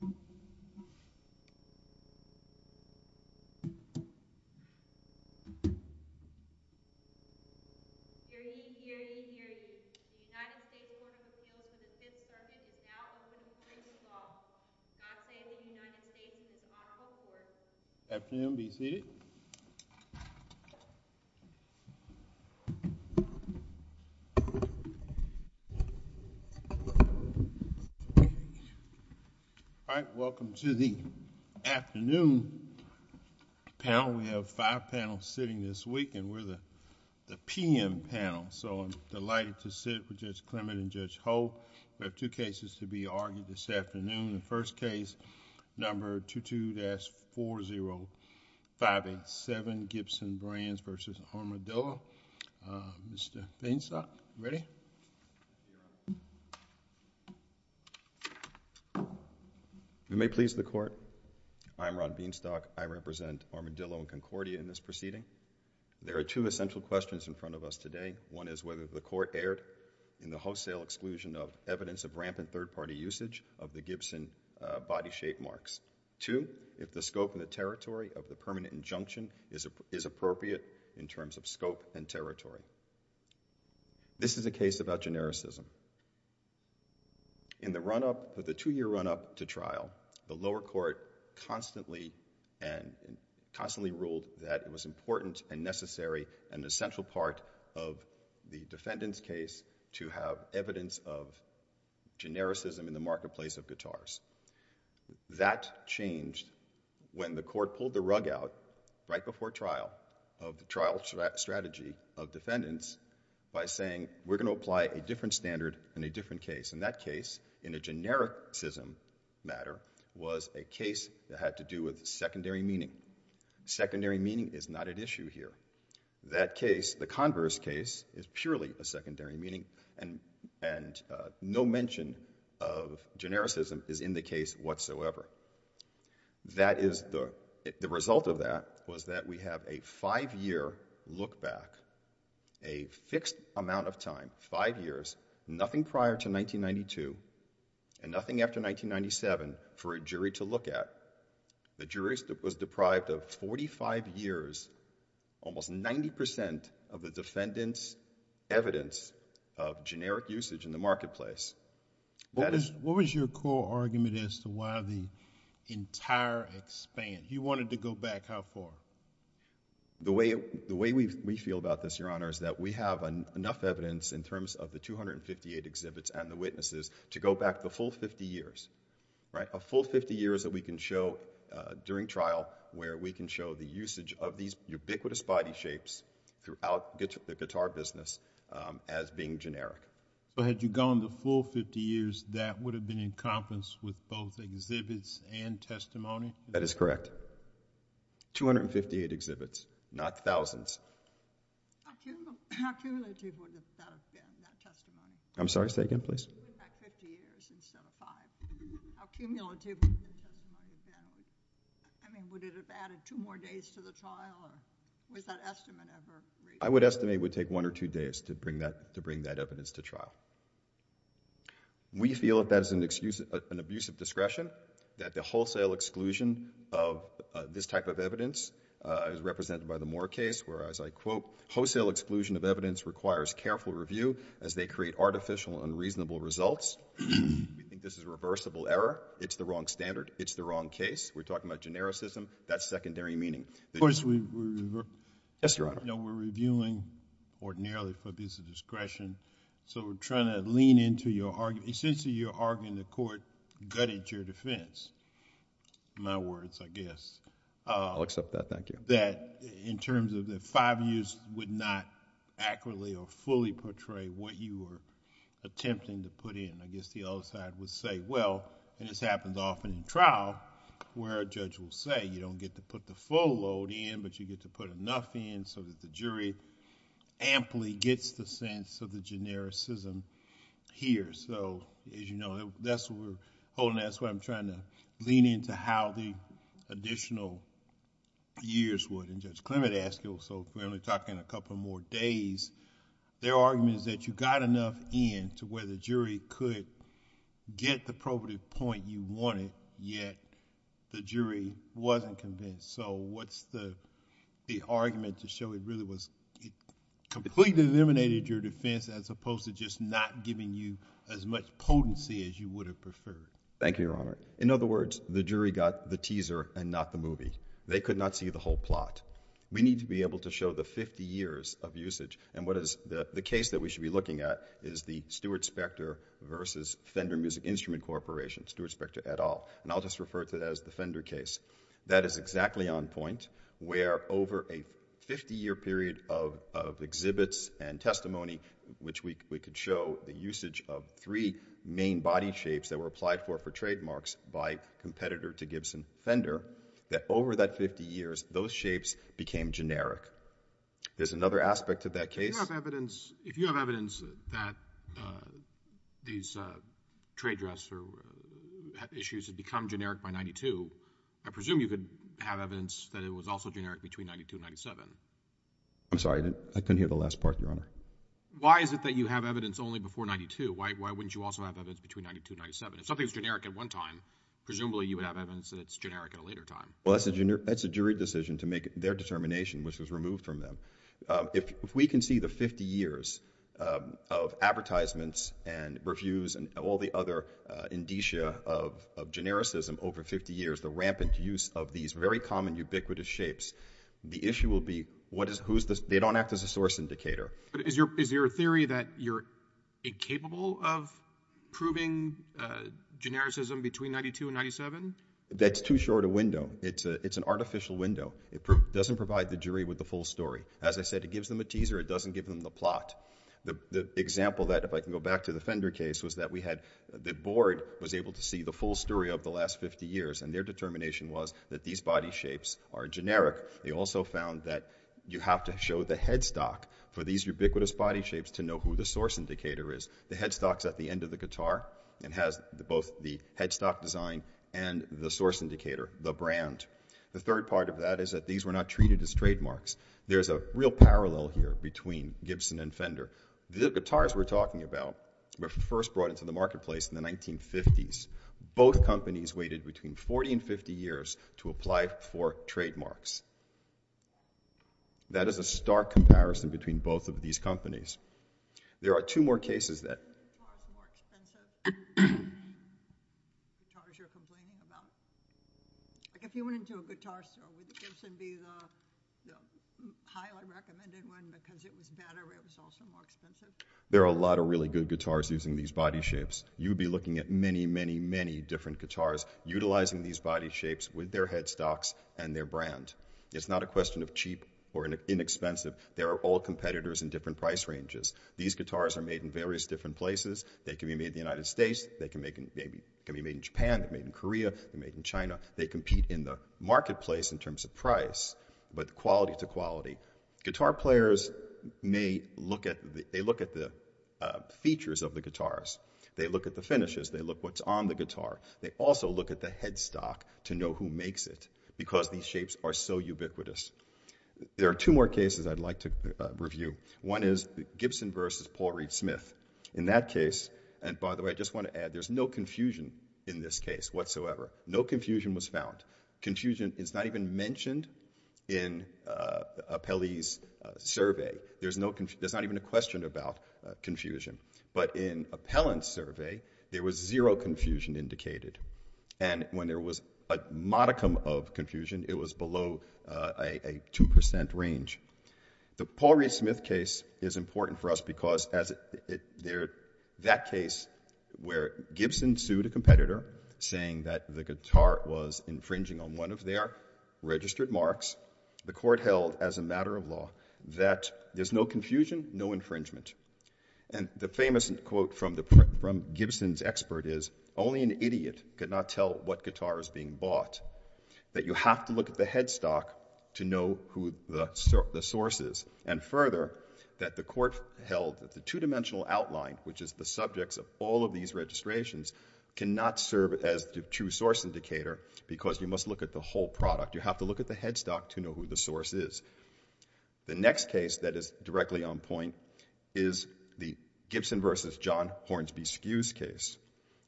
The United States Court of Appeals in the Fifth Circuit is now open for any call. I say that the United States is honorable court. Welcome to the afternoon panel. We have five panels sitting this week and we're the p.m. panel, so I'm delighted to sit with Judge Clement and Judge Holt. We have two cases to be argued this afternoon. The first case, number 22-40587, Gibson Brands v. Armadillo. Mr. Bainsot, ready? You may please the court. I'm Ron Bainsot. I represent Armadillo and Concordia in this proceeding. There are two essential questions in front of us today. One is whether the court erred in the wholesale exclusion of evidence of rampant third-party usage of the Gibson body shape marks. Two, if the scope and the territory of the permanent injunction is appropriate in terms of scope and territory. This is a case about genericism. In the run-up, the two-year run-up to trial, the lower court constantly and constantly ruled that it was important and necessary and an essential part of the defendant's case to have evidence of genericism in the marketplace of guitars. That changed when the court pulled the rug out right before trial of the trial strategy of defendants by saying we're going to apply a different standard in a different case. In that case, in a genericism matter, was a case that had to do with secondary meaning. Secondary meaning is not at issue here. That case, the converse case, is purely a secondary meaning and no mention of genericism is in the case whatsoever. The result of that was that we have a five-year look back, a fixed amount of time, five years, nothing prior to 1992 and nothing after 1997 for a jury to look at. The jury was deprived of forty-five years, almost ninety percent of the defendant's evidence of generic usage in the marketplace. What was your core argument as to why the entire expanse? You wanted to go back how far? The way we feel about this, Your Honor, is that we have enough evidence in terms of the 258 exhibits and the witnesses to go back the full fifty years, right? A full fifty years that we can show during trial where we can show the usage of these ubiquitous body shapes throughout the guitar business as being generic. Had you gone the full fifty years, that would have been encompassed with both exhibits and testimony? That is correct. 258 exhibits, not thousands. How cumulative would that have been, that testimony? I'm sorry. Say again, please. That fifty years instead of five. How cumulative would that have been? I mean, would it have added two more days to the trial or was that estimate ever... I would estimate it would take one or two days to bring that evidence to trial. We feel that that is an abuse of discretion, that the wholesale exclusion of this type of evidence is represented by the Moore case where, as I quote, wholesale exclusion of evidence requires careful review as they create artificial and unreasonable results. We think this is a reversible error. It's the wrong standard. It's the wrong case. We're talking about genericism. That's secondary meaning. Of course, we... Yes, Your Honor. No, we're reviewing ordinarily for abuse of discretion, so we're trying to lean into your argument. Essentially, your argument in court gutted your defense, in my words, I guess. I'll accept that. Thank you. That in terms of the five years would not accurately or fully portray what you were attempting to put in. I guess the other side would say, well, and this happens often in trial where a judge will say, you don't get to put the full load in but you get to put enough in so that the jury amply gets the sense of the genericism here. As you know, that's what we're holding, that's why I'm trying to lean into how the additional years would. Judge Clement asked you, so we're only talking a couple more days. Their argument is that you got enough in to where the jury could get the probative point you wanted, yet the jury wasn't convinced. What's the argument to show it really was completely eliminated your defense as opposed to just not giving you as much potency as you would have preferred? Thank you, Your Honor. In other words, the jury got the teaser and not the movie. They could not see the whole plot. We need to be able to show the fifty years of usage and what is the case that we should be looking at is the Stewart-Spector versus Fender Music Instrument Corporation, Stewart-Spector et al. I'll just refer to that as the Fender case. That is exactly on point where over a fifty year period of exhibits and testimony, which we could show the usage of three main body shapes that were applied for for trademarks by competitor to Gibson Fender, that over that fifty years, those shapes became generic. There's another aspect of that case. If you have evidence that these trade dresser issues have become generic by ninety-two, I presume you could have evidence that it was also generic between ninety-two and ninety-seven. I'm sorry. I couldn't hear the last part, Your Honor. Why is it that you have evidence only before ninety-two? Why wouldn't you also have evidence between ninety-two and ninety-seven? If something is generic at one time, presumably you would have evidence that it's generic at a later time. Well, that's a jury decision to make their determination, which was removed from them. If we can see the fifty years of advertisements and reviews and all the other indicia of genericism over fifty years, the rampant use of these very common ubiquitous shapes, the issue will be they don't act as a source indicator. Is your theory that you're incapable of proving genericism between ninety-two and ninety-seven? That's too short a window. It's an artificial window. It doesn't provide the jury with the full story. As I said, it gives them a teaser. It doesn't give them the plot. The example that, if I can go back to the Fender case, was that the board was able to see the full story of the last fifty years and their determination was that these body shapes are generic. They also found that you have to show the headstock for these ubiquitous body shapes to know who the source indicator is. The headstock's at the end of the guitar and has both the headstock design and the source indicator, the brand. The third part of that is that these were not treated as trademarks. There's a real parallel here between Gibson and Fender. The guitars we're talking about were first brought into the marketplace in the 1950s. Both companies waited between forty and fifty years to apply for trademarks. That is a stark comparison between both of these companies. There are two more cases that... There are a lot of really good guitars using these body shapes. You'd be looking at many, many, many different guitars utilizing these body shapes with their headstocks and their brand. It's not a question of cheap or inexpensive. They are all competitors in different price ranges. These guitars are made in various different places. They can be made in the United States. They can be made in Japan, made in Korea, made in China. They compete in the marketplace in terms of price, but quality to quality. Guitar players may look at the features of the guitars. They look at the finishes. They look what's on the guitar. They also look at the headstock to know who makes it because these shapes are so ubiquitous. There are two more cases I'd like to review. One is Gibson versus Paul Reed Smith. In that case, and by the way, I just want to add there's no confusion in this case whatsoever. No confusion was found. Confusion is not even mentioned in Appellee's survey. There's not even a question about confusion, but in Appellant's survey, there was zero confusion indicated. When there was a modicum of confusion, it was below a 2% range. The Paul Reed Smith case is important for us because that case where Gibson sued a competitor saying that the guitar was infringing on one of their registered marks, the court held as a matter of law that there's no confusion, no infringement. The famous quote from Gibson's expert is, only an idiot could not tell what guitar is being bought. That you have to look at the headstock to know who the source is. And further, that the court held that the two-dimensional outline, which is the subjects of all of these registrations, cannot serve as the true source indicator because you must look at the whole product. You have to look at the headstock to know who the source is. The next case that is directly on point is the Gibson versus John Hornsby Skews case.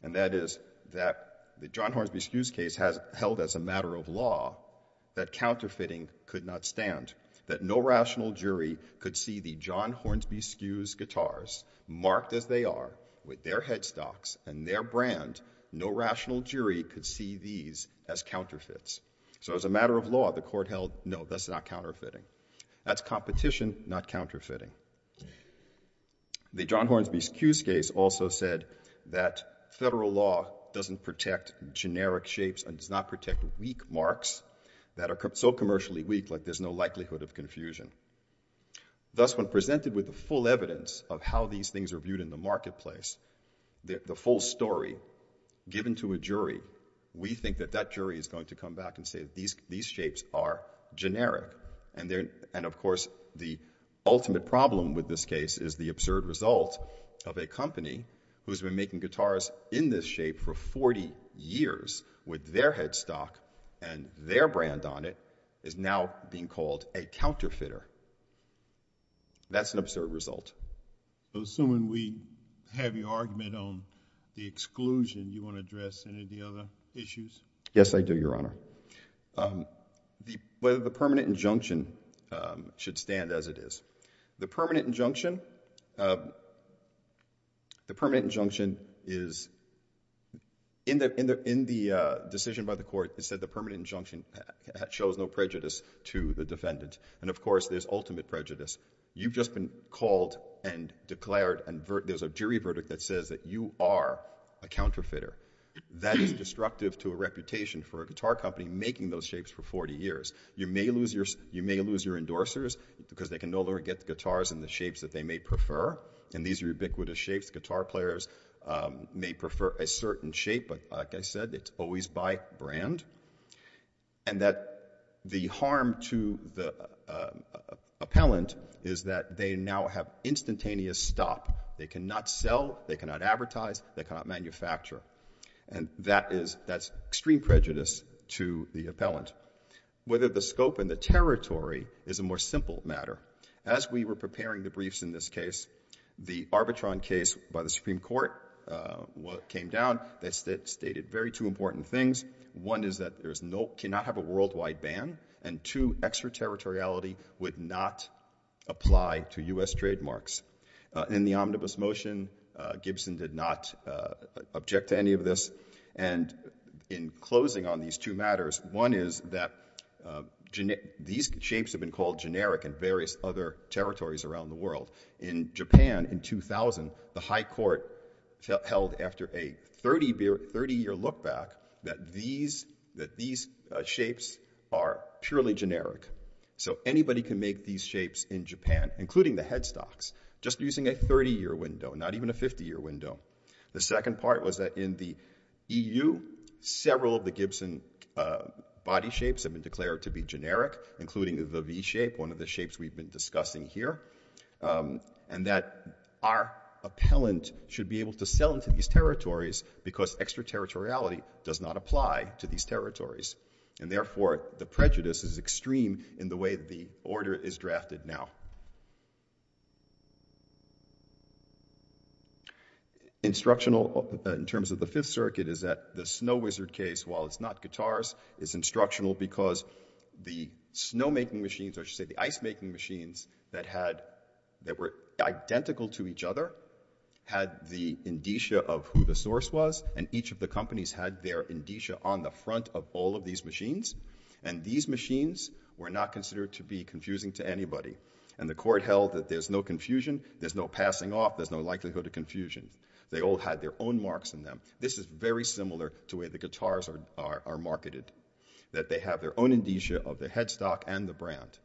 And that is that the John Hornsby Skews case has held as a matter of law that counterfeiting could not stand, that no rational jury could see the John Hornsby Skews guitars marked as they are with their headstocks and their brand. No rational jury could see these as counterfeits. So as a matter of law, the court held, no, that's not counterfeiting. That's competition, not counterfeiting. The John Hornsby Skews case also said that federal law doesn't protect generic shapes and does not protect weak marks that are so commercially weak, like there's no likelihood of confusion. Thus, when presented with the full evidence of how these things are viewed in the marketplace, the full story given to a jury, we think that that jury is going to come back and say that these shapes are generic. And of course, the ultimate problem with this case is the absurd result of a company who's been making guitars in this shape for 40 years with their headstock and their brand on it is now being called a counterfeiter. That's an absurd result. So assuming we have your argument on the exclusion, do you want to address any of the other issues? Yes, I do, Your Honor. Whether the permanent injunction should stand as it is. The permanent injunction, the permanent injunction is, in the decision by the court, it said the permanent injunction shows no prejudice to the defendant. And of course, there's ultimate prejudice. You've just been called and declared, and there's a jury verdict that says that you are a counterfeiter. That is destructive to a reputation for a guitar company making those shapes for 40 years. You may lose your endorsers because they can no longer get the guitars in the shapes that they may prefer, and these are ubiquitous shapes. Guitar players may prefer a certain shape, but like I said, it's always by brand. And that the harm to the appellant is that they now have instantaneous stop. They cannot sell, they cannot advertise, they cannot manufacture. And that is, that's extreme prejudice to the appellant. Whether the scope and the territory is a more simple matter. As we were preparing the briefs in this case, the Arbitron case by the Supreme Court came down that stated very two important things. One is that there is no, cannot have a worldwide ban, and two, extraterritoriality would not apply to U.S. trademarks. In the omnibus motion, Gibson did not object to any of this. And in closing on these two matters, one is that these shapes have been called generic in various other territories around the world. In Japan in 2000, the high court held after a 30 year look back that these shapes are purely generic. So anybody can make these shapes in Japan, including the headstocks, just using a 30 year window, not even a 50 year window. The second part was that in the EU, several of the Gibson body shapes have been declared to be generic, including the V shape, one of the shapes we've been discussing here. And that our appellant should be able to sell into these territories because extraterritoriality does not apply to these territories. And therefore, the prejudice is extreme in the way the order is drafted now. Instructional in terms of the Fifth Circuit is that the Snow Wizard case, while it's not guitars, is instructional because the snow making machines, or should I say the ice making machines that had, that were identical to each other, had the indicia of who the headstock was. And that's why it's called these machines. And these machines were not considered to be confusing to anybody. And the court held that there's no confusion, there's no passing off, there's no likelihood of confusion. They all had their own marks in them. This is very similar to the way the guitars are marketed, that they have their own indicia of the headstock and the brand.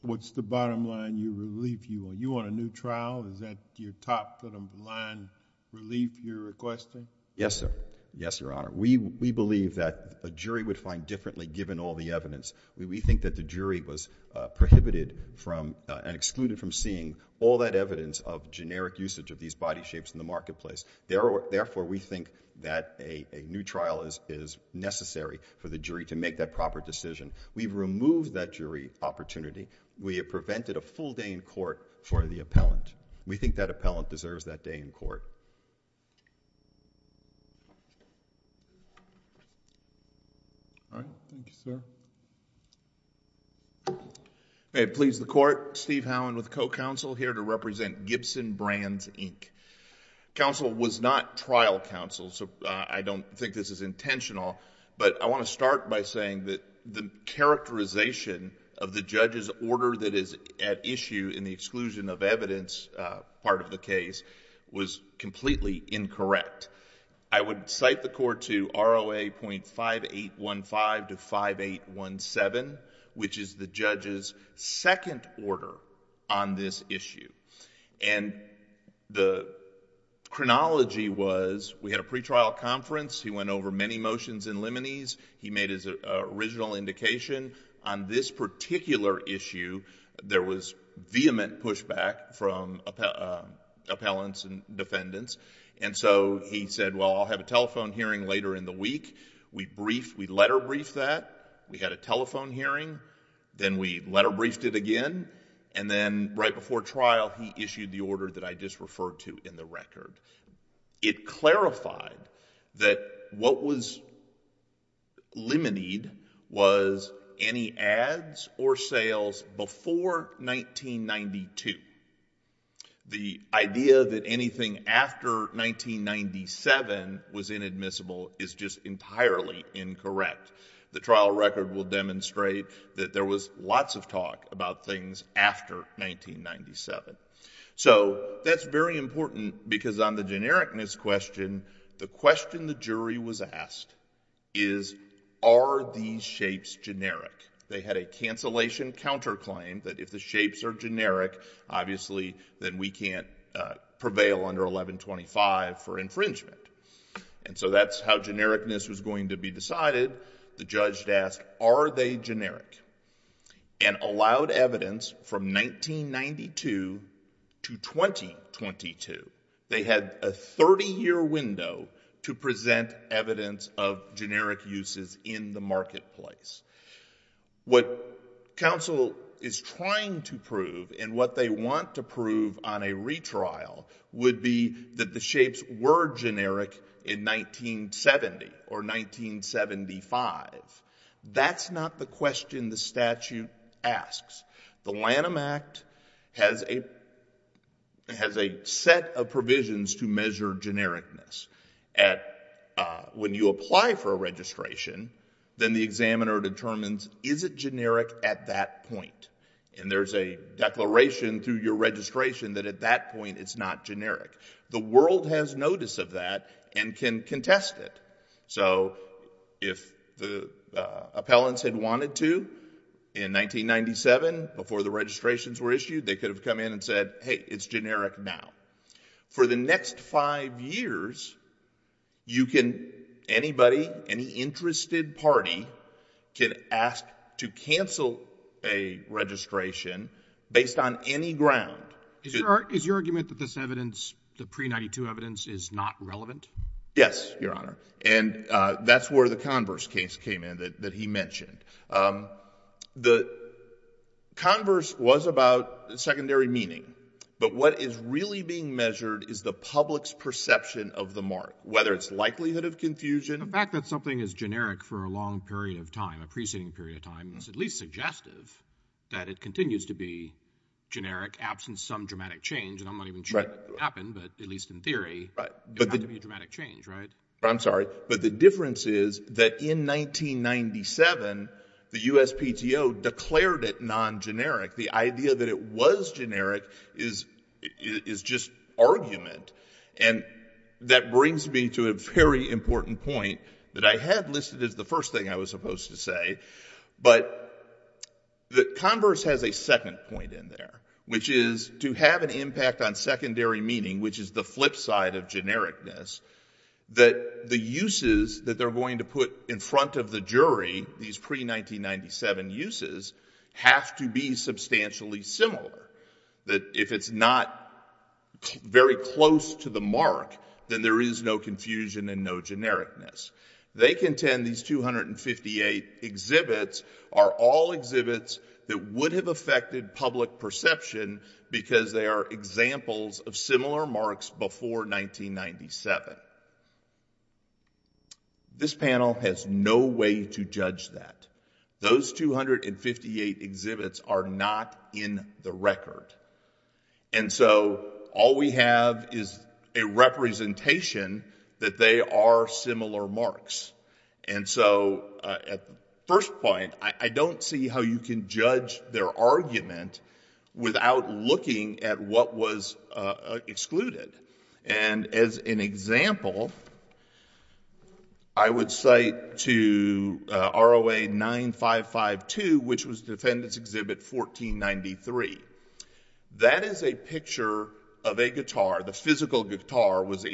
What's the bottom line, you want a new trial, is that your top line relief you're requesting? Yes sir. Yes, Your Honor. We believe that a jury would find differently given all the evidence. We think that the jury was prohibited from and excluded from seeing all that evidence of generic usage of these body shapes in the marketplace. Therefore we think that a new trial is necessary for the jury to make that proper decision. We've removed that jury opportunity. We have prevented a full day in court for the appellant. We think that appellant deserves that day in court. All right. Thank you sir. May it please the court, Steve Howland with the Co-Counsel here to represent Gibson Brands Inc. Counsel was not trial counsel, so I don't think this is intentional, but I want to start by saying that the characterization of the judge's order that is at issue in the exclusion of evidence part of the case was completely incorrect. I would cite the court to ROA.5815-5817, which is the judge's second order on this issue. The chronology was, we had a pre-trial conference. He went over many motions and liminees. He made his original indication. On this particular issue, there was vehement pushback from appellants and defendants. And so he said, well, I'll have a telephone hearing later in the week. We briefed, we letter briefed that. We had a telephone hearing. Then we letter briefed it again. And then right before trial, he issued the order that I just referred to in the record. It clarified that what was limineed was any ads or sales before 1992. The idea that anything after 1997 was inadmissible is just entirely incorrect. The trial record will demonstrate that there was lots of talk about things after 1997. So that's very important because on the genericness question, the question the jury was asked is, are these shapes generic? They had a cancellation counterclaim that if the shapes are generic, obviously, then we can't prevail under 1125 for infringement. And so that's how genericness was going to be decided. The judge asked, are they generic? And allowed evidence from 1992 to 2022. They had a 30 year window to present evidence of generic uses in the marketplace. What counsel is trying to prove and what they want to prove on a retrial would be that the shapes were generic in 1970 or 1975. That's not the question the statute asks. The Lanham Act has a set of provisions to measure genericness. When you apply for a registration, then the examiner determines, is it generic at that point? And there's a declaration through your registration that at that point, it's not generic. The world has notice of that and can contest it. So if the appellants had wanted to in 1997 before the registrations were issued, they could have come in and said, hey, it's generic now. For the next five years, you can, anybody, any interested party can ask to cancel a registration based on any ground. Is your argument that this evidence, the pre-92 evidence, is not relevant? Yes, your honor. And that's where the Converse case came in that he mentioned. The Converse was about secondary meaning. But what is really being measured is the public's perception of the mark, whether it's likelihood of confusion. The fact that something is generic for a long period of time, a preceding period of time, is at least suggestive that it continues to be generic, absent some dramatic change. And I'm not even sure it happened, but at least in theory, there had to be a dramatic change, right? I'm sorry. But the difference is that in 1997, the USPTO declared it non-generic. The idea that it was generic is just argument. And that brings me to a very important point that I had listed as the first thing I was supposed to say. But the Converse has a second point in there, which is to have an impact on secondary meaning, which is the flip side of genericness, that the uses that they're going to put in front of the jury, these pre-1997 uses, have to be substantially similar. That if it's not very close to the mark, then there is no confusion and no genericness. They contend these 258 exhibits are all exhibits that would have affected public perception because they are examples of similar marks before 1997. This panel has no way to judge that. Those 258 exhibits are not in the record. And so all we have is a representation that they are similar marks. And so at first point, I don't see how you can judge their argument without looking at what was excluded. And as an example, I would cite to ROA 9552, which was Defendant's Exhibit 1493. That is a picture of a guitar. The physical guitar was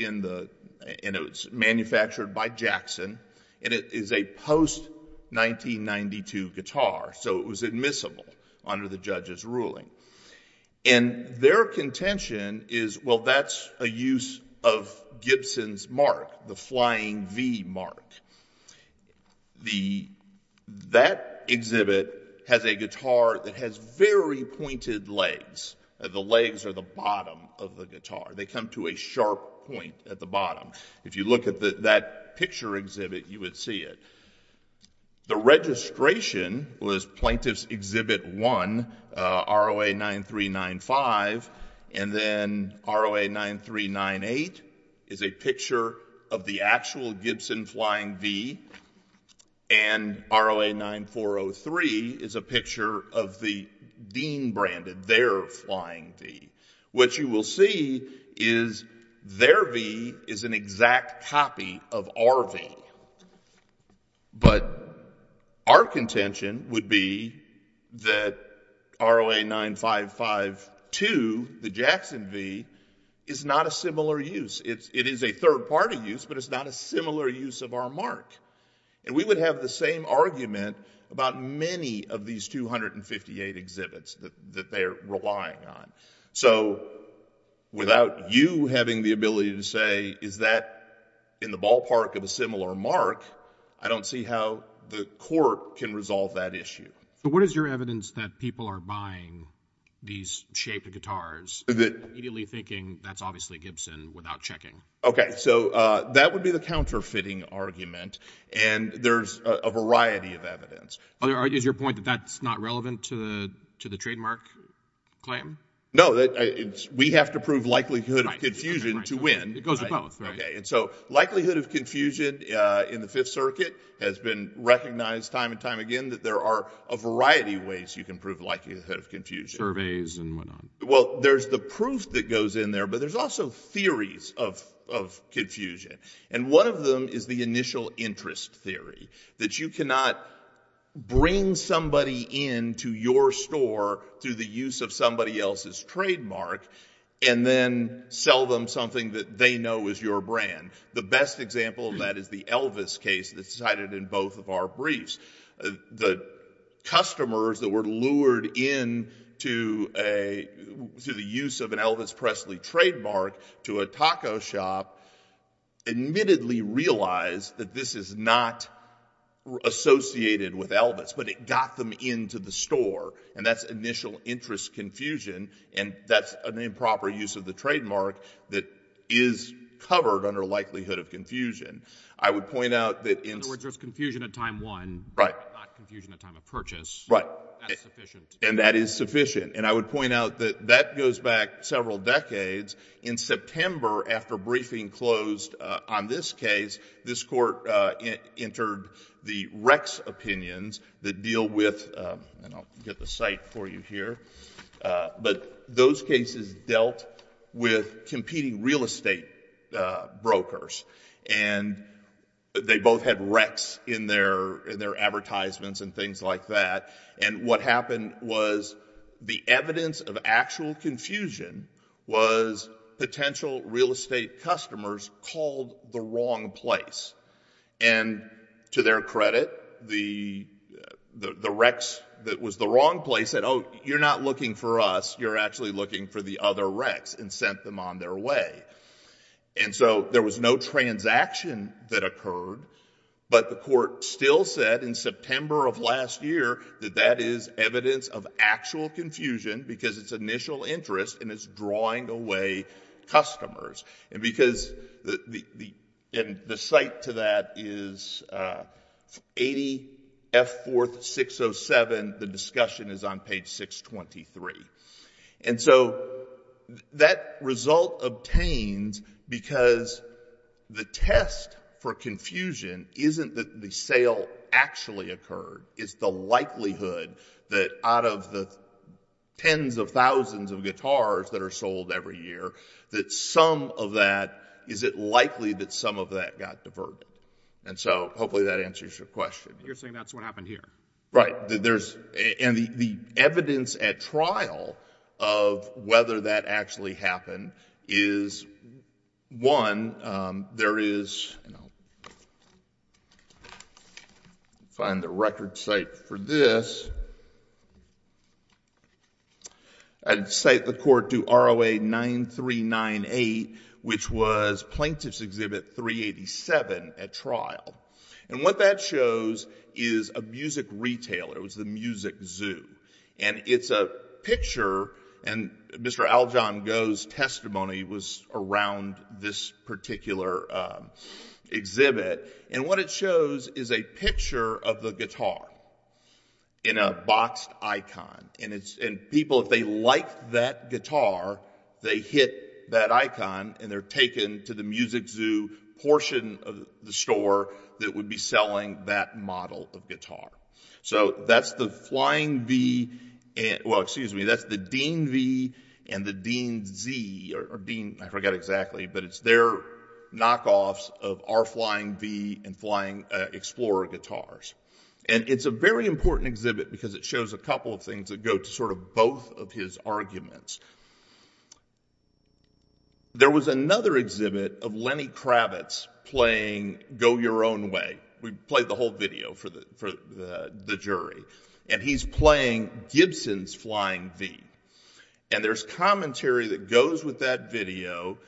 manufactured by Jackson. And it is a post-1992 guitar. So it was admissible under the judge's ruling. And their contention is, well, that's a use of Gibson's mark, the flying V mark. That exhibit has a guitar that has very pointed legs. The legs are the bottom of the guitar. They come to a sharp point at the bottom. If you look at that picture exhibit, you would see it. The registration was Plaintiff's Exhibit 1, ROA 9395. And then ROA 9398 is a picture of the actual Gibson flying V. And ROA 9403 is a picture of the Dean-branded, their flying V. What you will see is their V is an exact copy of our V. But our contention would be that ROA 9552, the Jackson V, is not a similar use. It is a third-party use, but it's not a similar use of our mark. And we would have the same argument about many of these 258 exhibits that they're relying on. So without you having the ability to say, is that in the ballpark of a similar mark, I don't see how the court can resolve that issue. But what is your evidence that people are buying these shaped guitars, immediately thinking that's obviously Gibson, without checking? OK, so that would be the counterfeiting argument. And there's a variety of evidence. Is your point that that's not relevant to the trademark claim? No, we have to prove likelihood of confusion to win. It goes with both, right? And so likelihood of confusion in the Fifth Circuit has been recognized time and time again that there are a variety of ways you can prove likelihood of confusion. Surveys and whatnot. Well, there's the proof that goes in there, but there's also theories of confusion. And one of them is the initial interest theory, that you cannot bring somebody in to your store through the use of somebody else's trademark, and then sell them something that they know is your brand. The best example of that is the Elvis case that's cited in both of our briefs. The customers that were lured in to the use of an Elvis Presley trademark to a taco shop admittedly realized that this is not associated with Elvis, but it got them into the store. And that's initial interest confusion, and that's an improper use of the trademark that is covered under likelihood of confusion. I would point out that in- In other words, there's confusion at time one. Right. Not confusion at time of purchase. Right. That's sufficient. And that is sufficient. And I would point out that that goes back several decades. In September, after briefing closed on this case, this court entered the Rex opinions that deal with, and I'll get the site for you here, but those cases dealt with competing real estate brokers. And they both had Rex in their advertisements and things like that. And what happened was the evidence of actual confusion was potential real estate customers called the wrong place. And to their credit, the Rex that was the wrong place said, oh, you're not looking for us. You're actually looking for the other Rex and sent them on their way. And so there was no transaction that occurred, but the court still said in September of last year that that is evidence of actual confusion because it's initial interest and it's drawing away customers. And because the site to that is 80F4607. The discussion is on page 623. And so that result obtained because the test for confusion isn't that the sale actually occurred. It's the likelihood that out of the tens of thousands of guitars that are sold every year, that some of that, is it likely that some of that got diverted? And so hopefully that answers your question. You're saying that's what happened here. Right. And the evidence at trial of whether that actually happened is, one, there is, find the record site for this, and cite the court to ROA 9398, which was plaintiff's exhibit 387 at trial. And what that shows is a music retailer. It was the Music Zoo. And it's a picture, and Mr. Aljong Goh's testimony was around this particular exhibit. And what it shows is a picture of the guitar in a boxed icon. And people, if they like that guitar, they hit that icon, and they're taken to the Music Zoo portion of the store that would be selling that model of guitar. So that's the Flying V, well, excuse me, that's the Dean V and the Dean Z, or Dean, I forget exactly, but it's their knockoffs of our Flying V and Flying Explorer guitars. And it's a very important exhibit because it shows a couple of things that go to sort of both of his arguments. There was another exhibit of Lenny Kravitz playing Go Your Own Way. We played the whole video for the jury. And he's playing Gibson's Flying V. And there's commentary that goes with that video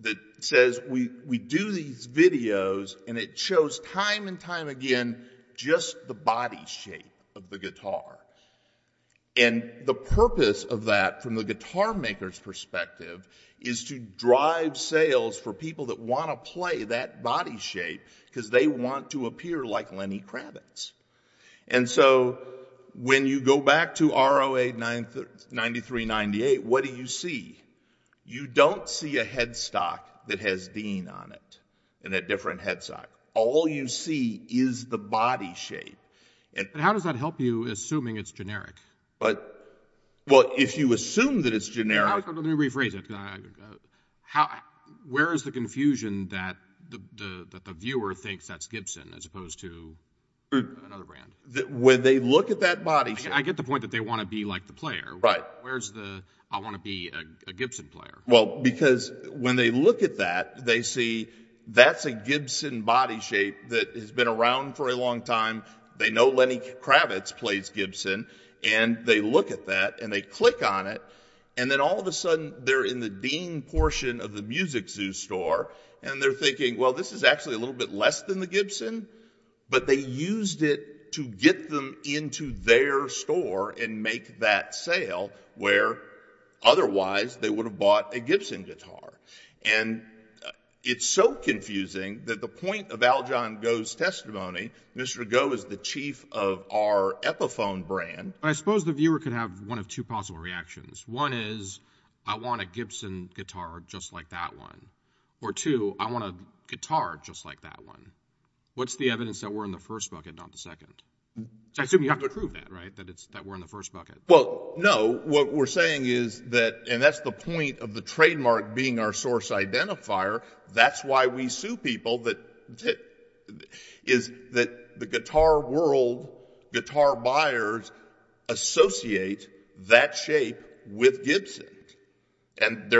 that says, we do these videos, and it shows time and time again just the body shape of the guitar. And the purpose of that, from the guitar maker's perspective, is to drive sales for people that want to play that body shape because they want to appear like Lenny Kravitz. And so when you go back to ROA 9398, what do you see? You don't see a headstock that has Dean on it and a different headstock. All you see is the body shape. How does that help you, assuming it's generic? Well, if you assume that it's generic. Let me rephrase it. Where is the confusion that the viewer thinks that's Gibson as opposed to another brand? When they look at that body shape. I get the point that they want to be like the player. Where's the, I want to be a Gibson player? Well, because when they look at that, they see that's a Gibson body shape that has been around for a long time. They know Lenny Kravitz plays Gibson. And they look at that, and they click on it. And then all of a sudden, they're in the Dean portion of the music zoo store. And they're thinking, well, this is actually a little bit less than the Gibson. But they used it to get them into their store and make that sale where otherwise they would have bought a Gibson guitar. And it's so confusing that the point of Aljohn Goh's testimony, Mr. Goh is the chief of our Epiphone brand. I suppose the viewer could have one of two possible reactions. One is, I want a Gibson guitar just like that one. Or two, I want a guitar just like that one. What's the evidence that we're in the first bucket, not the second? I assume you have to prove that, right? That we're in the first bucket. Well, no. What we're saying is that, and that's the point of the trademark being our source identifier. That's why we sue people, is that the guitar world, guitar buyers, associate that shape with Gibson. And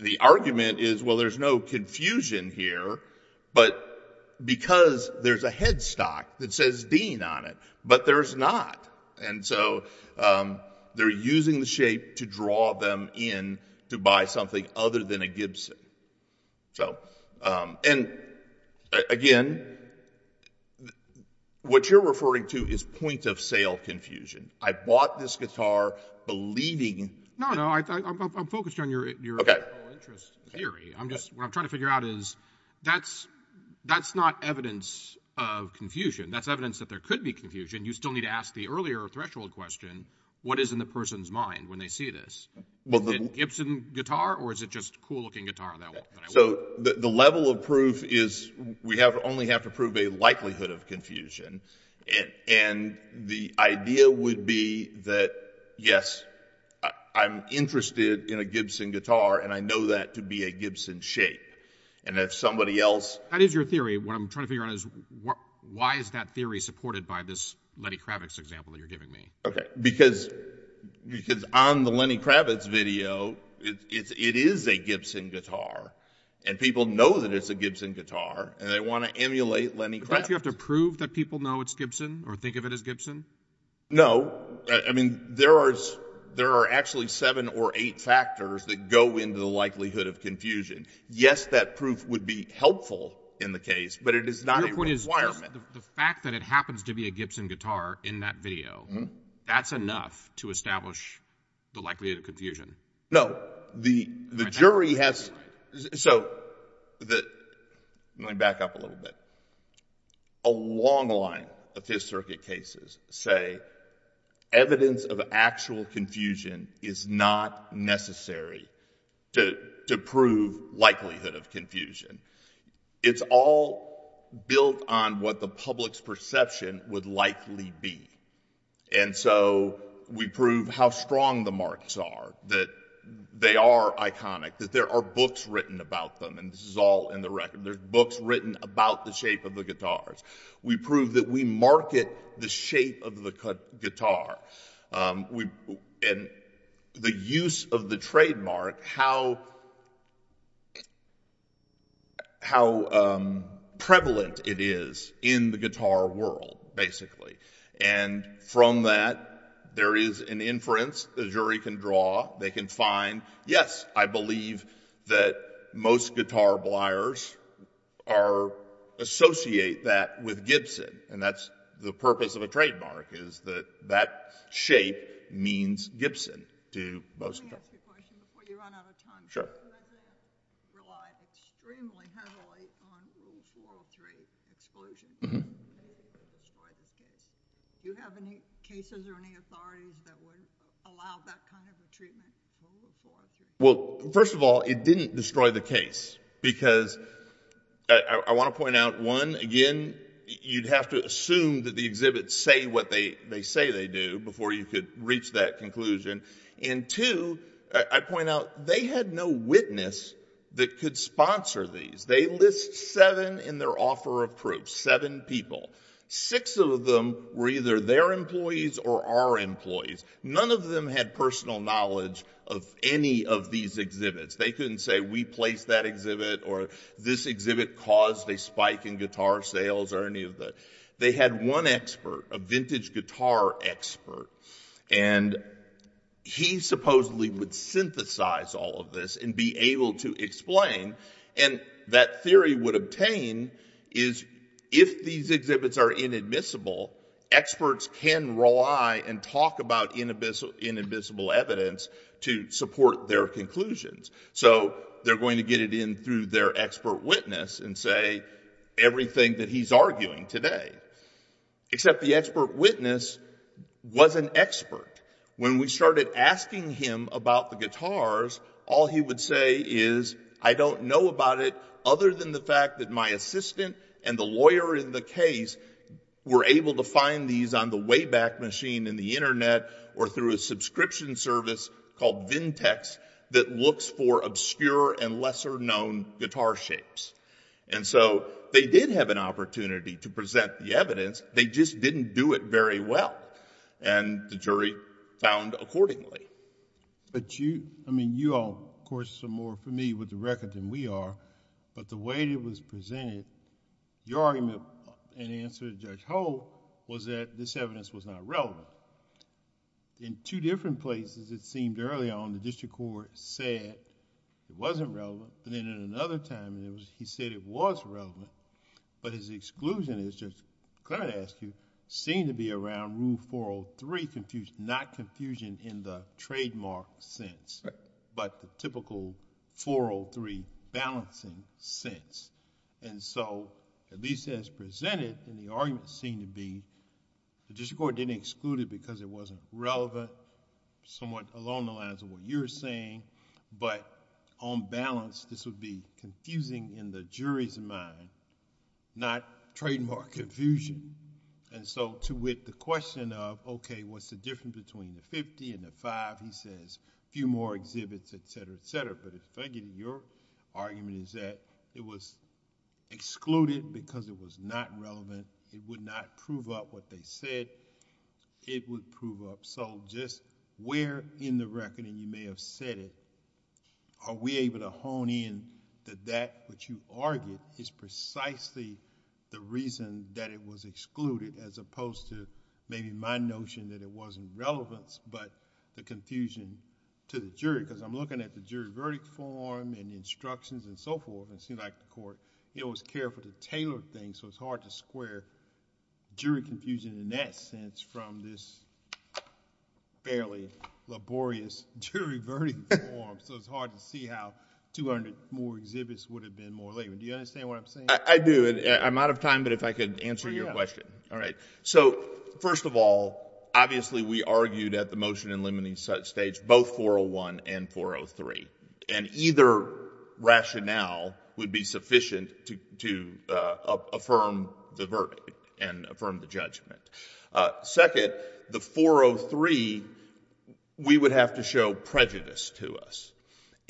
the argument is, well, there's no confusion here. But because there's a headstock that says Dean on it. But there's not. And so they're using the shape to draw them in to buy something other than a Gibson. And again, what you're referring to is point of sale confusion. I bought this guitar believing. No, no, I'm focused on your interest theory. I'm just, what I'm trying to figure out is, that's not evidence of confusion. That's evidence that there could be confusion. You still need to ask the earlier threshold question, what is in the person's mind when they see this? Is it Gibson guitar, or is it just cool looking guitar? So the level of proof is, we only have to prove a likelihood of confusion. And the idea would be that, yes, I'm interested in a Gibson guitar. And I know that to be a Gibson shape. And if somebody else. That is your theory. What I'm trying to figure out is, why is that theory supported by this Lenny Kravitz example that you're giving me? Because on the Lenny Kravitz video, it is a Gibson guitar. And people know that it's a Gibson guitar. And they want to emulate Lenny Kravitz. Don't you have to prove that people know it's Gibson, or think of it as Gibson? No. I mean, there are actually seven or eight factors that go into the likelihood of confusion. Yes, that proof would be helpful in the case. But it is not a requirement. The fact that it happens to be a Gibson guitar in that video, that's enough to establish the likelihood of confusion. No. The jury has. So let me back up a little bit. A long line of Fifth Circuit cases say evidence of actual confusion is not necessary to prove likelihood of confusion. It's all built on what the public's perception would likely be. And so we prove how strong the marks are, that they are iconic, that there are books written about them. And this is all in the record. There's books written about the shape of the guitars. We prove that we market the shape of the guitar. And the use of the trademark, how prevalent it is in the guitar world, basically. And from that, there is an inference the jury can draw. They can find, yes, I believe that most guitar pliers associate that with Gibson. And that's the purpose of a trademark, is that that shape means Gibson to most guitar pliers. Let me ask you a question before you run out of time. Sure. You have relied extremely heavily on Rule 403 exclusion to destroy this case. Do you have any cases or any authorities that would allow that kind of a treatment in Rule 403? Well, first of all, it didn't destroy the case. Because I want to point out, one, again, you'd have to assume that the exhibits say what they say they do before you could reach that conclusion. And two, I point out, they had no witness that could sponsor these. They list seven in their offer of proof, seven people. Six of them were either their employees or our employees. None of them had personal knowledge They couldn't say, we placed that exhibit, or this exhibit caused a spike in guitar sales, or any of that. They had one expert, a vintage guitar expert. And he supposedly would synthesize all of this and be able to explain. And that theory would obtain is, if these exhibits are inadmissible, experts can rely and talk about inadmissible evidence to support their conclusions. So they're going to get it in through their expert witness and say everything that he's arguing today. Except the expert witness was an expert. When we started asking him about the guitars, all he would say is, I don't know about it other than the fact that my assistant and the lawyer in the case were able to find these on the Wayback Machine in the internet or through a subscription service called For Obscure and Lesser Known Guitar Shapes. And so they did have an opportunity to present the evidence. They just didn't do it very well. And the jury found accordingly. But you, I mean, you all, of course, are more familiar with the record than we are. But the way it was presented, your argument in answer to Judge Hull was that this evidence was not relevant. In two different places, it seemed earlier on the district court said it wasn't relevant. And then at another time, he said it was relevant. But his exclusion is, Judge Clement asked you, seemed to be around Rule 403, not confusion in the trademark sense, but the typical 403 balancing sense. And so, at least as presented, the argument seemed to be the district court didn't exclude it because it wasn't relevant, somewhat along the lines of what you're saying. But on balance, this would be confusing in the jury's mind, not trademark confusion. And so with the question of, OK, what's the difference between the 50 and the five, he says a few more exhibits, et cetera, et cetera. But if I give you your argument is that it was excluded because it was not relevant. It would not prove up what they said. It would prove up. So just where in the record, and you may have said it, are we able to hone in that that which you argued is precisely the reason that it was excluded, as opposed to maybe my notion that it wasn't relevant, but the confusion to the jury? Because I'm looking at the jury verdict form and instructions and so forth. And it seemed like the court was careful to tailor things, so it's hard to square jury confusion. In that sense, from this fairly laborious jury verdict form, so it's hard to see how 200 more exhibits would have been more labor. Do you understand what I'm saying? I do. And I'm out of time, but if I could answer your question. All right. So first of all, obviously, we argued at the motion in limiting such states, both 401 and 403. And either rationale would be sufficient to affirm the verdict and affirm the judgment. Second, the 403, we would have to show prejudice to us,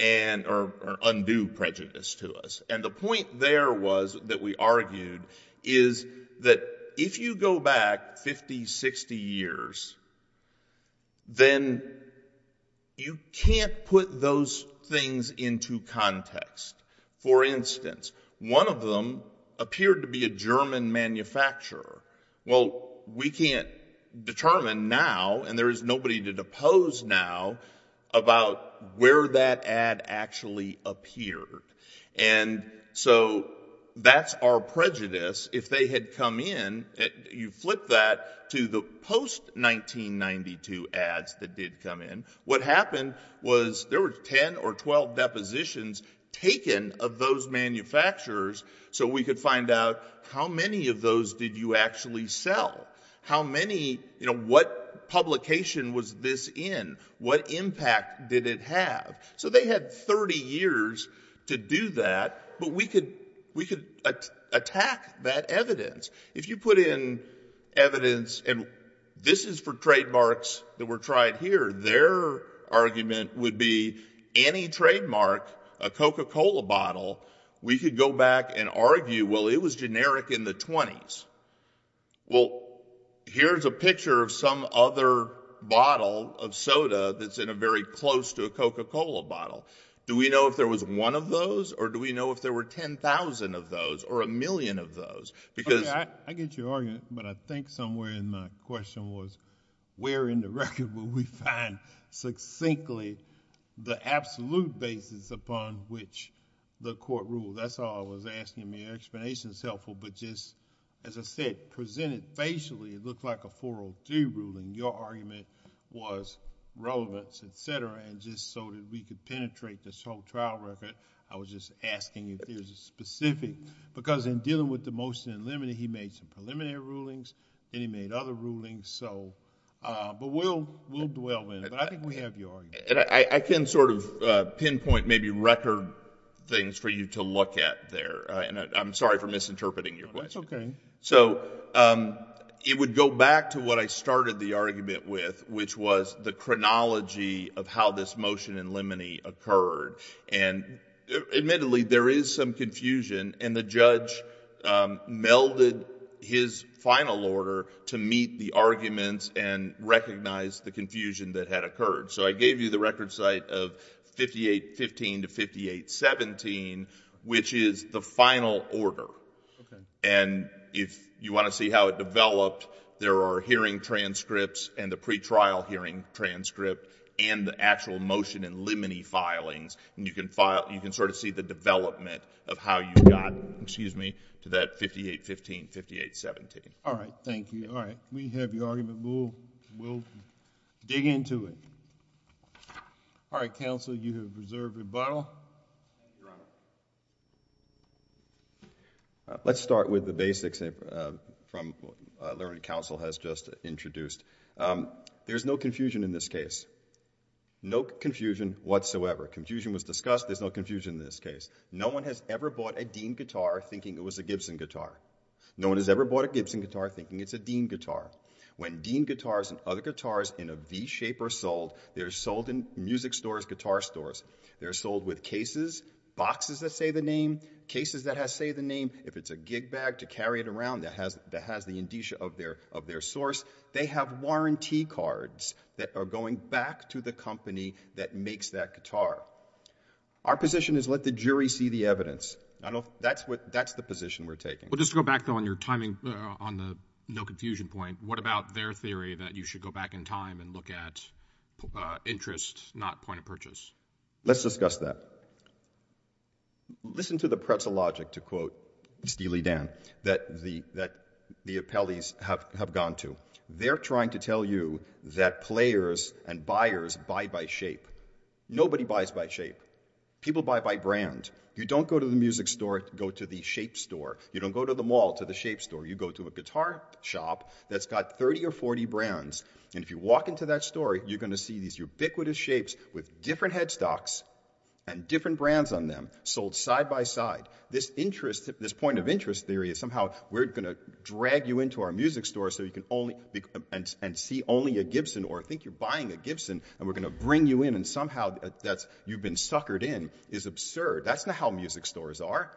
or undo prejudice to us. And the point there was that we argued is that if you go back 50, 60 years, then you can't put those things into context. For instance, one of them appeared to be a German manufacturer. Well, we can't determine now, and there is nobody to depose now, about where that ad actually appeared. And so that's our prejudice. If they had come in, you flip that to the post-1992 ads that did come in. What happened was there were 10 or 12 depositions taken of those manufacturers. So we could find out, how many of those did you actually sell? How many, what publication was this in? What impact did it have? So they had 30 years to do that. But we could attack that evidence. If you put in evidence, and this is for trademarks that were tried here, their argument would be, any trademark, a Coca-Cola bottle, we could go back and argue, well, it was generic in the 20s. Well, here's a picture of some other bottle of soda that's in a very close to a Coca-Cola bottle. Do we know if there was one of those, or do we know if there were 10,000 of those, or a million of those? Because I get your argument, but I think somewhere in my question was, where in the record will we find, succinctly, the absolute basis upon which the court ruled? That's all I was asking, and your explanation's helpful, but just, as I said, presented facially, it looked like a 403 ruling. Your argument was relevance, et cetera, and just so that we could penetrate this whole trial record, I was just asking if there's a specific, because in dealing with the motion in limine, he made some preliminary rulings, and he made other rulings, so. But we'll dwell in it, but I think we have your argument. I can sort of pinpoint, maybe, record things for you to look at there, and I'm sorry for misinterpreting your question. That's okay. So, it would go back to what I started the argument with, which was the chronology of how this motion in limine occurred, and admittedly, there is some confusion, and the judge melded his final order to meet the arguments and recognize the confusion that had occurred. So, I gave you the record site of 5815 to 5817, which is the final order, and if you wanna see how it developed, there are hearing transcripts and the pretrial hearing transcript, and the actual motion in limine filings, and you can sort of see the development of how you got, excuse me, to that 5815, 5817. All right, thank you. All right, we have your argument. We'll dig into it. All right, counsel, you have reserved rebuttal. Let's start with the basics from what learning counsel has just introduced. There's no confusion in this case. No confusion whatsoever. Confusion was discussed. There's no confusion in this case. No one has ever bought a Dean guitar thinking it was a Gibson guitar. No one has ever bought a Gibson guitar thinking it's a Dean guitar. When Dean guitars and other guitars in a V shape are sold, they're sold in music stores, guitar stores. They're sold with cases, boxes that say the name, cases that say the name. If it's a gig bag to carry it around that has the indicia of their source, they have warranty cards that are going back to the company that makes that guitar. Our position is let the jury see the evidence. That's the position we're taking. Well, just to go back, though, on your timing on the no confusion point, what about their theory that you should go back in time and look at interest, not point of purchase? Let's discuss that. Listen to the pretzel logic, to quote Steely Dan, that the appellees have gone to. They're trying to tell you that players and buyers buy by shape. Nobody buys by shape. People buy by brand. You don't go to the music store, go to the shape store. You don't go to the mall to the shape store. You go to a guitar shop that's got 30 or 40 brands. And if you walk into that store, you're gonna see these ubiquitous shapes with different headstocks and different brands on them, sold side by side. This interest, this point of interest theory is somehow we're gonna drag you into our music store so you can only, and see only a Gibson or think you're buying a Gibson and we're gonna bring you in and somehow that's you've been suckered in is absurd. That's not how music stores are.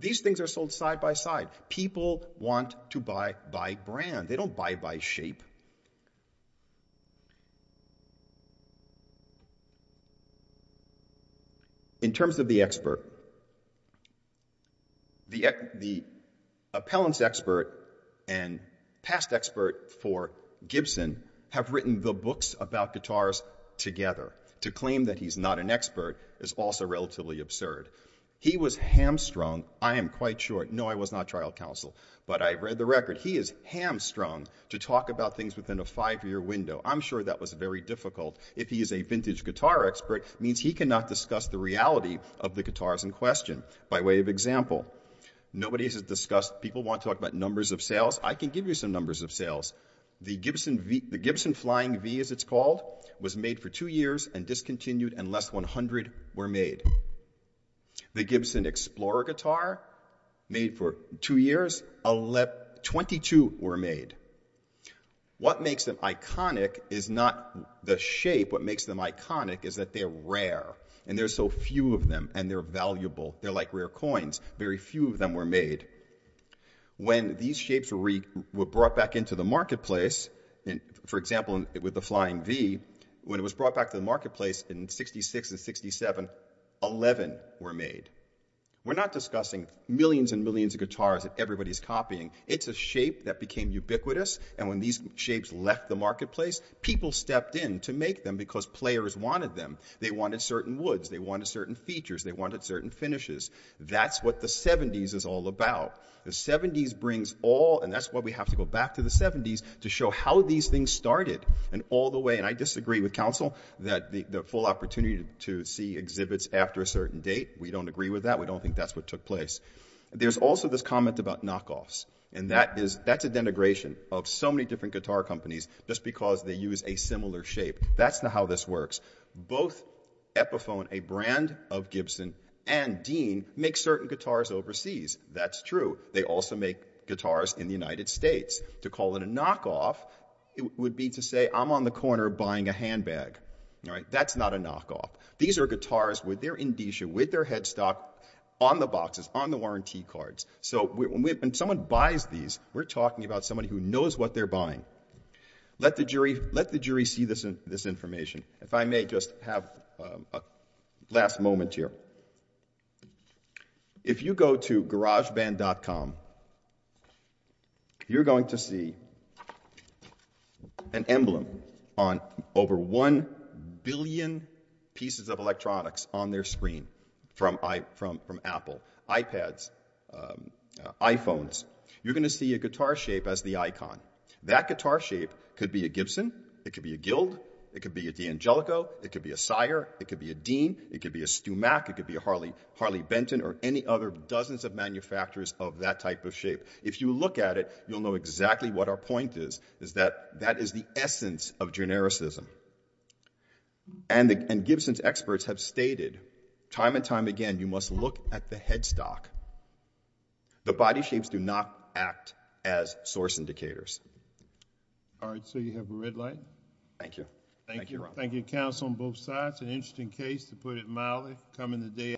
These things are sold side by side. People want to buy by brand. They don't buy by shape. In terms of the expert, the appellants expert and past expert for Gibson have written the books about guitars together. To claim that he's not an expert is also relatively absurd. He was hamstrung, I am quite sure. No, I was not trial counsel, but I read the record. He is hamstrung to talk about things within a five-year window. I'm sure that was very difficult. If he is a vintage guitar expert, means he cannot discuss the reality of the guitars in question. By way of example, nobody has discussed, people want to talk about numbers of sales. I can give you some numbers of sales. The Gibson Flying V, as it's called, was made for two years and discontinued and less than 100 were made. The Gibson Explorer guitar, made for two years, 22 were made. What makes them iconic is not the shape. What makes them iconic is that they're rare and there's so few of them and they're valuable. They're like rare coins. Very few of them were made. When these shapes were brought back into the marketplace, for example, with the Flying V, when it was brought back to the marketplace in 66 and 67, 11 were made. We're not discussing millions and millions of guitars that everybody's copying. It's a shape that became ubiquitous and when these shapes left the marketplace, people stepped in to make them because players wanted them. They wanted certain woods. They wanted certain features. They wanted certain finishes. That's what the 70s is all about. The 70s brings all, and that's why we have to go back to the 70s to show how these things started and all the way, and I disagree with Council, that the full opportunity to see exhibits after a certain date, we don't agree with that. We don't think that's what took place. There's also this comment about knockoffs and that's a denigration of so many different guitar companies just because they use a similar shape. That's not how this works. Both Epiphone, a brand of Gibson, and Dean make certain guitars overseas. That's true. They also make guitars in the United States. To call it a knockoff, it would be to say I'm on the corner buying a handbag. That's not a knockoff. These are guitars with their indicia, with their headstock on the boxes, on the warranty cards. So when someone buys these, we're talking about somebody who knows what they're buying. Let the jury see this information. If I may just have a last moment here. If you go to garageband.com, you're going to see an emblem on over one billion pieces of electronics on their screen from Apple, iPads, iPhones. You're gonna see a guitar shape as the icon. That guitar shape could be a Gibson, it could be a Guild, it could be a D'Angelico, it could be a Sire, it could be a Dean, it could be a Stumach, it could be a Harley Benton, or any other dozens of manufacturers of that type of shape. If you look at it, you'll know exactly what our point is, is that that is the essence of genericism. And Gibson's experts have stated time and time again, you must look at the headstock. The body shapes do not act as source indicators. All right, so you have a red light. Thank you. Thank you, counsel on both sides. An interesting case, to put it mildly, come in the day.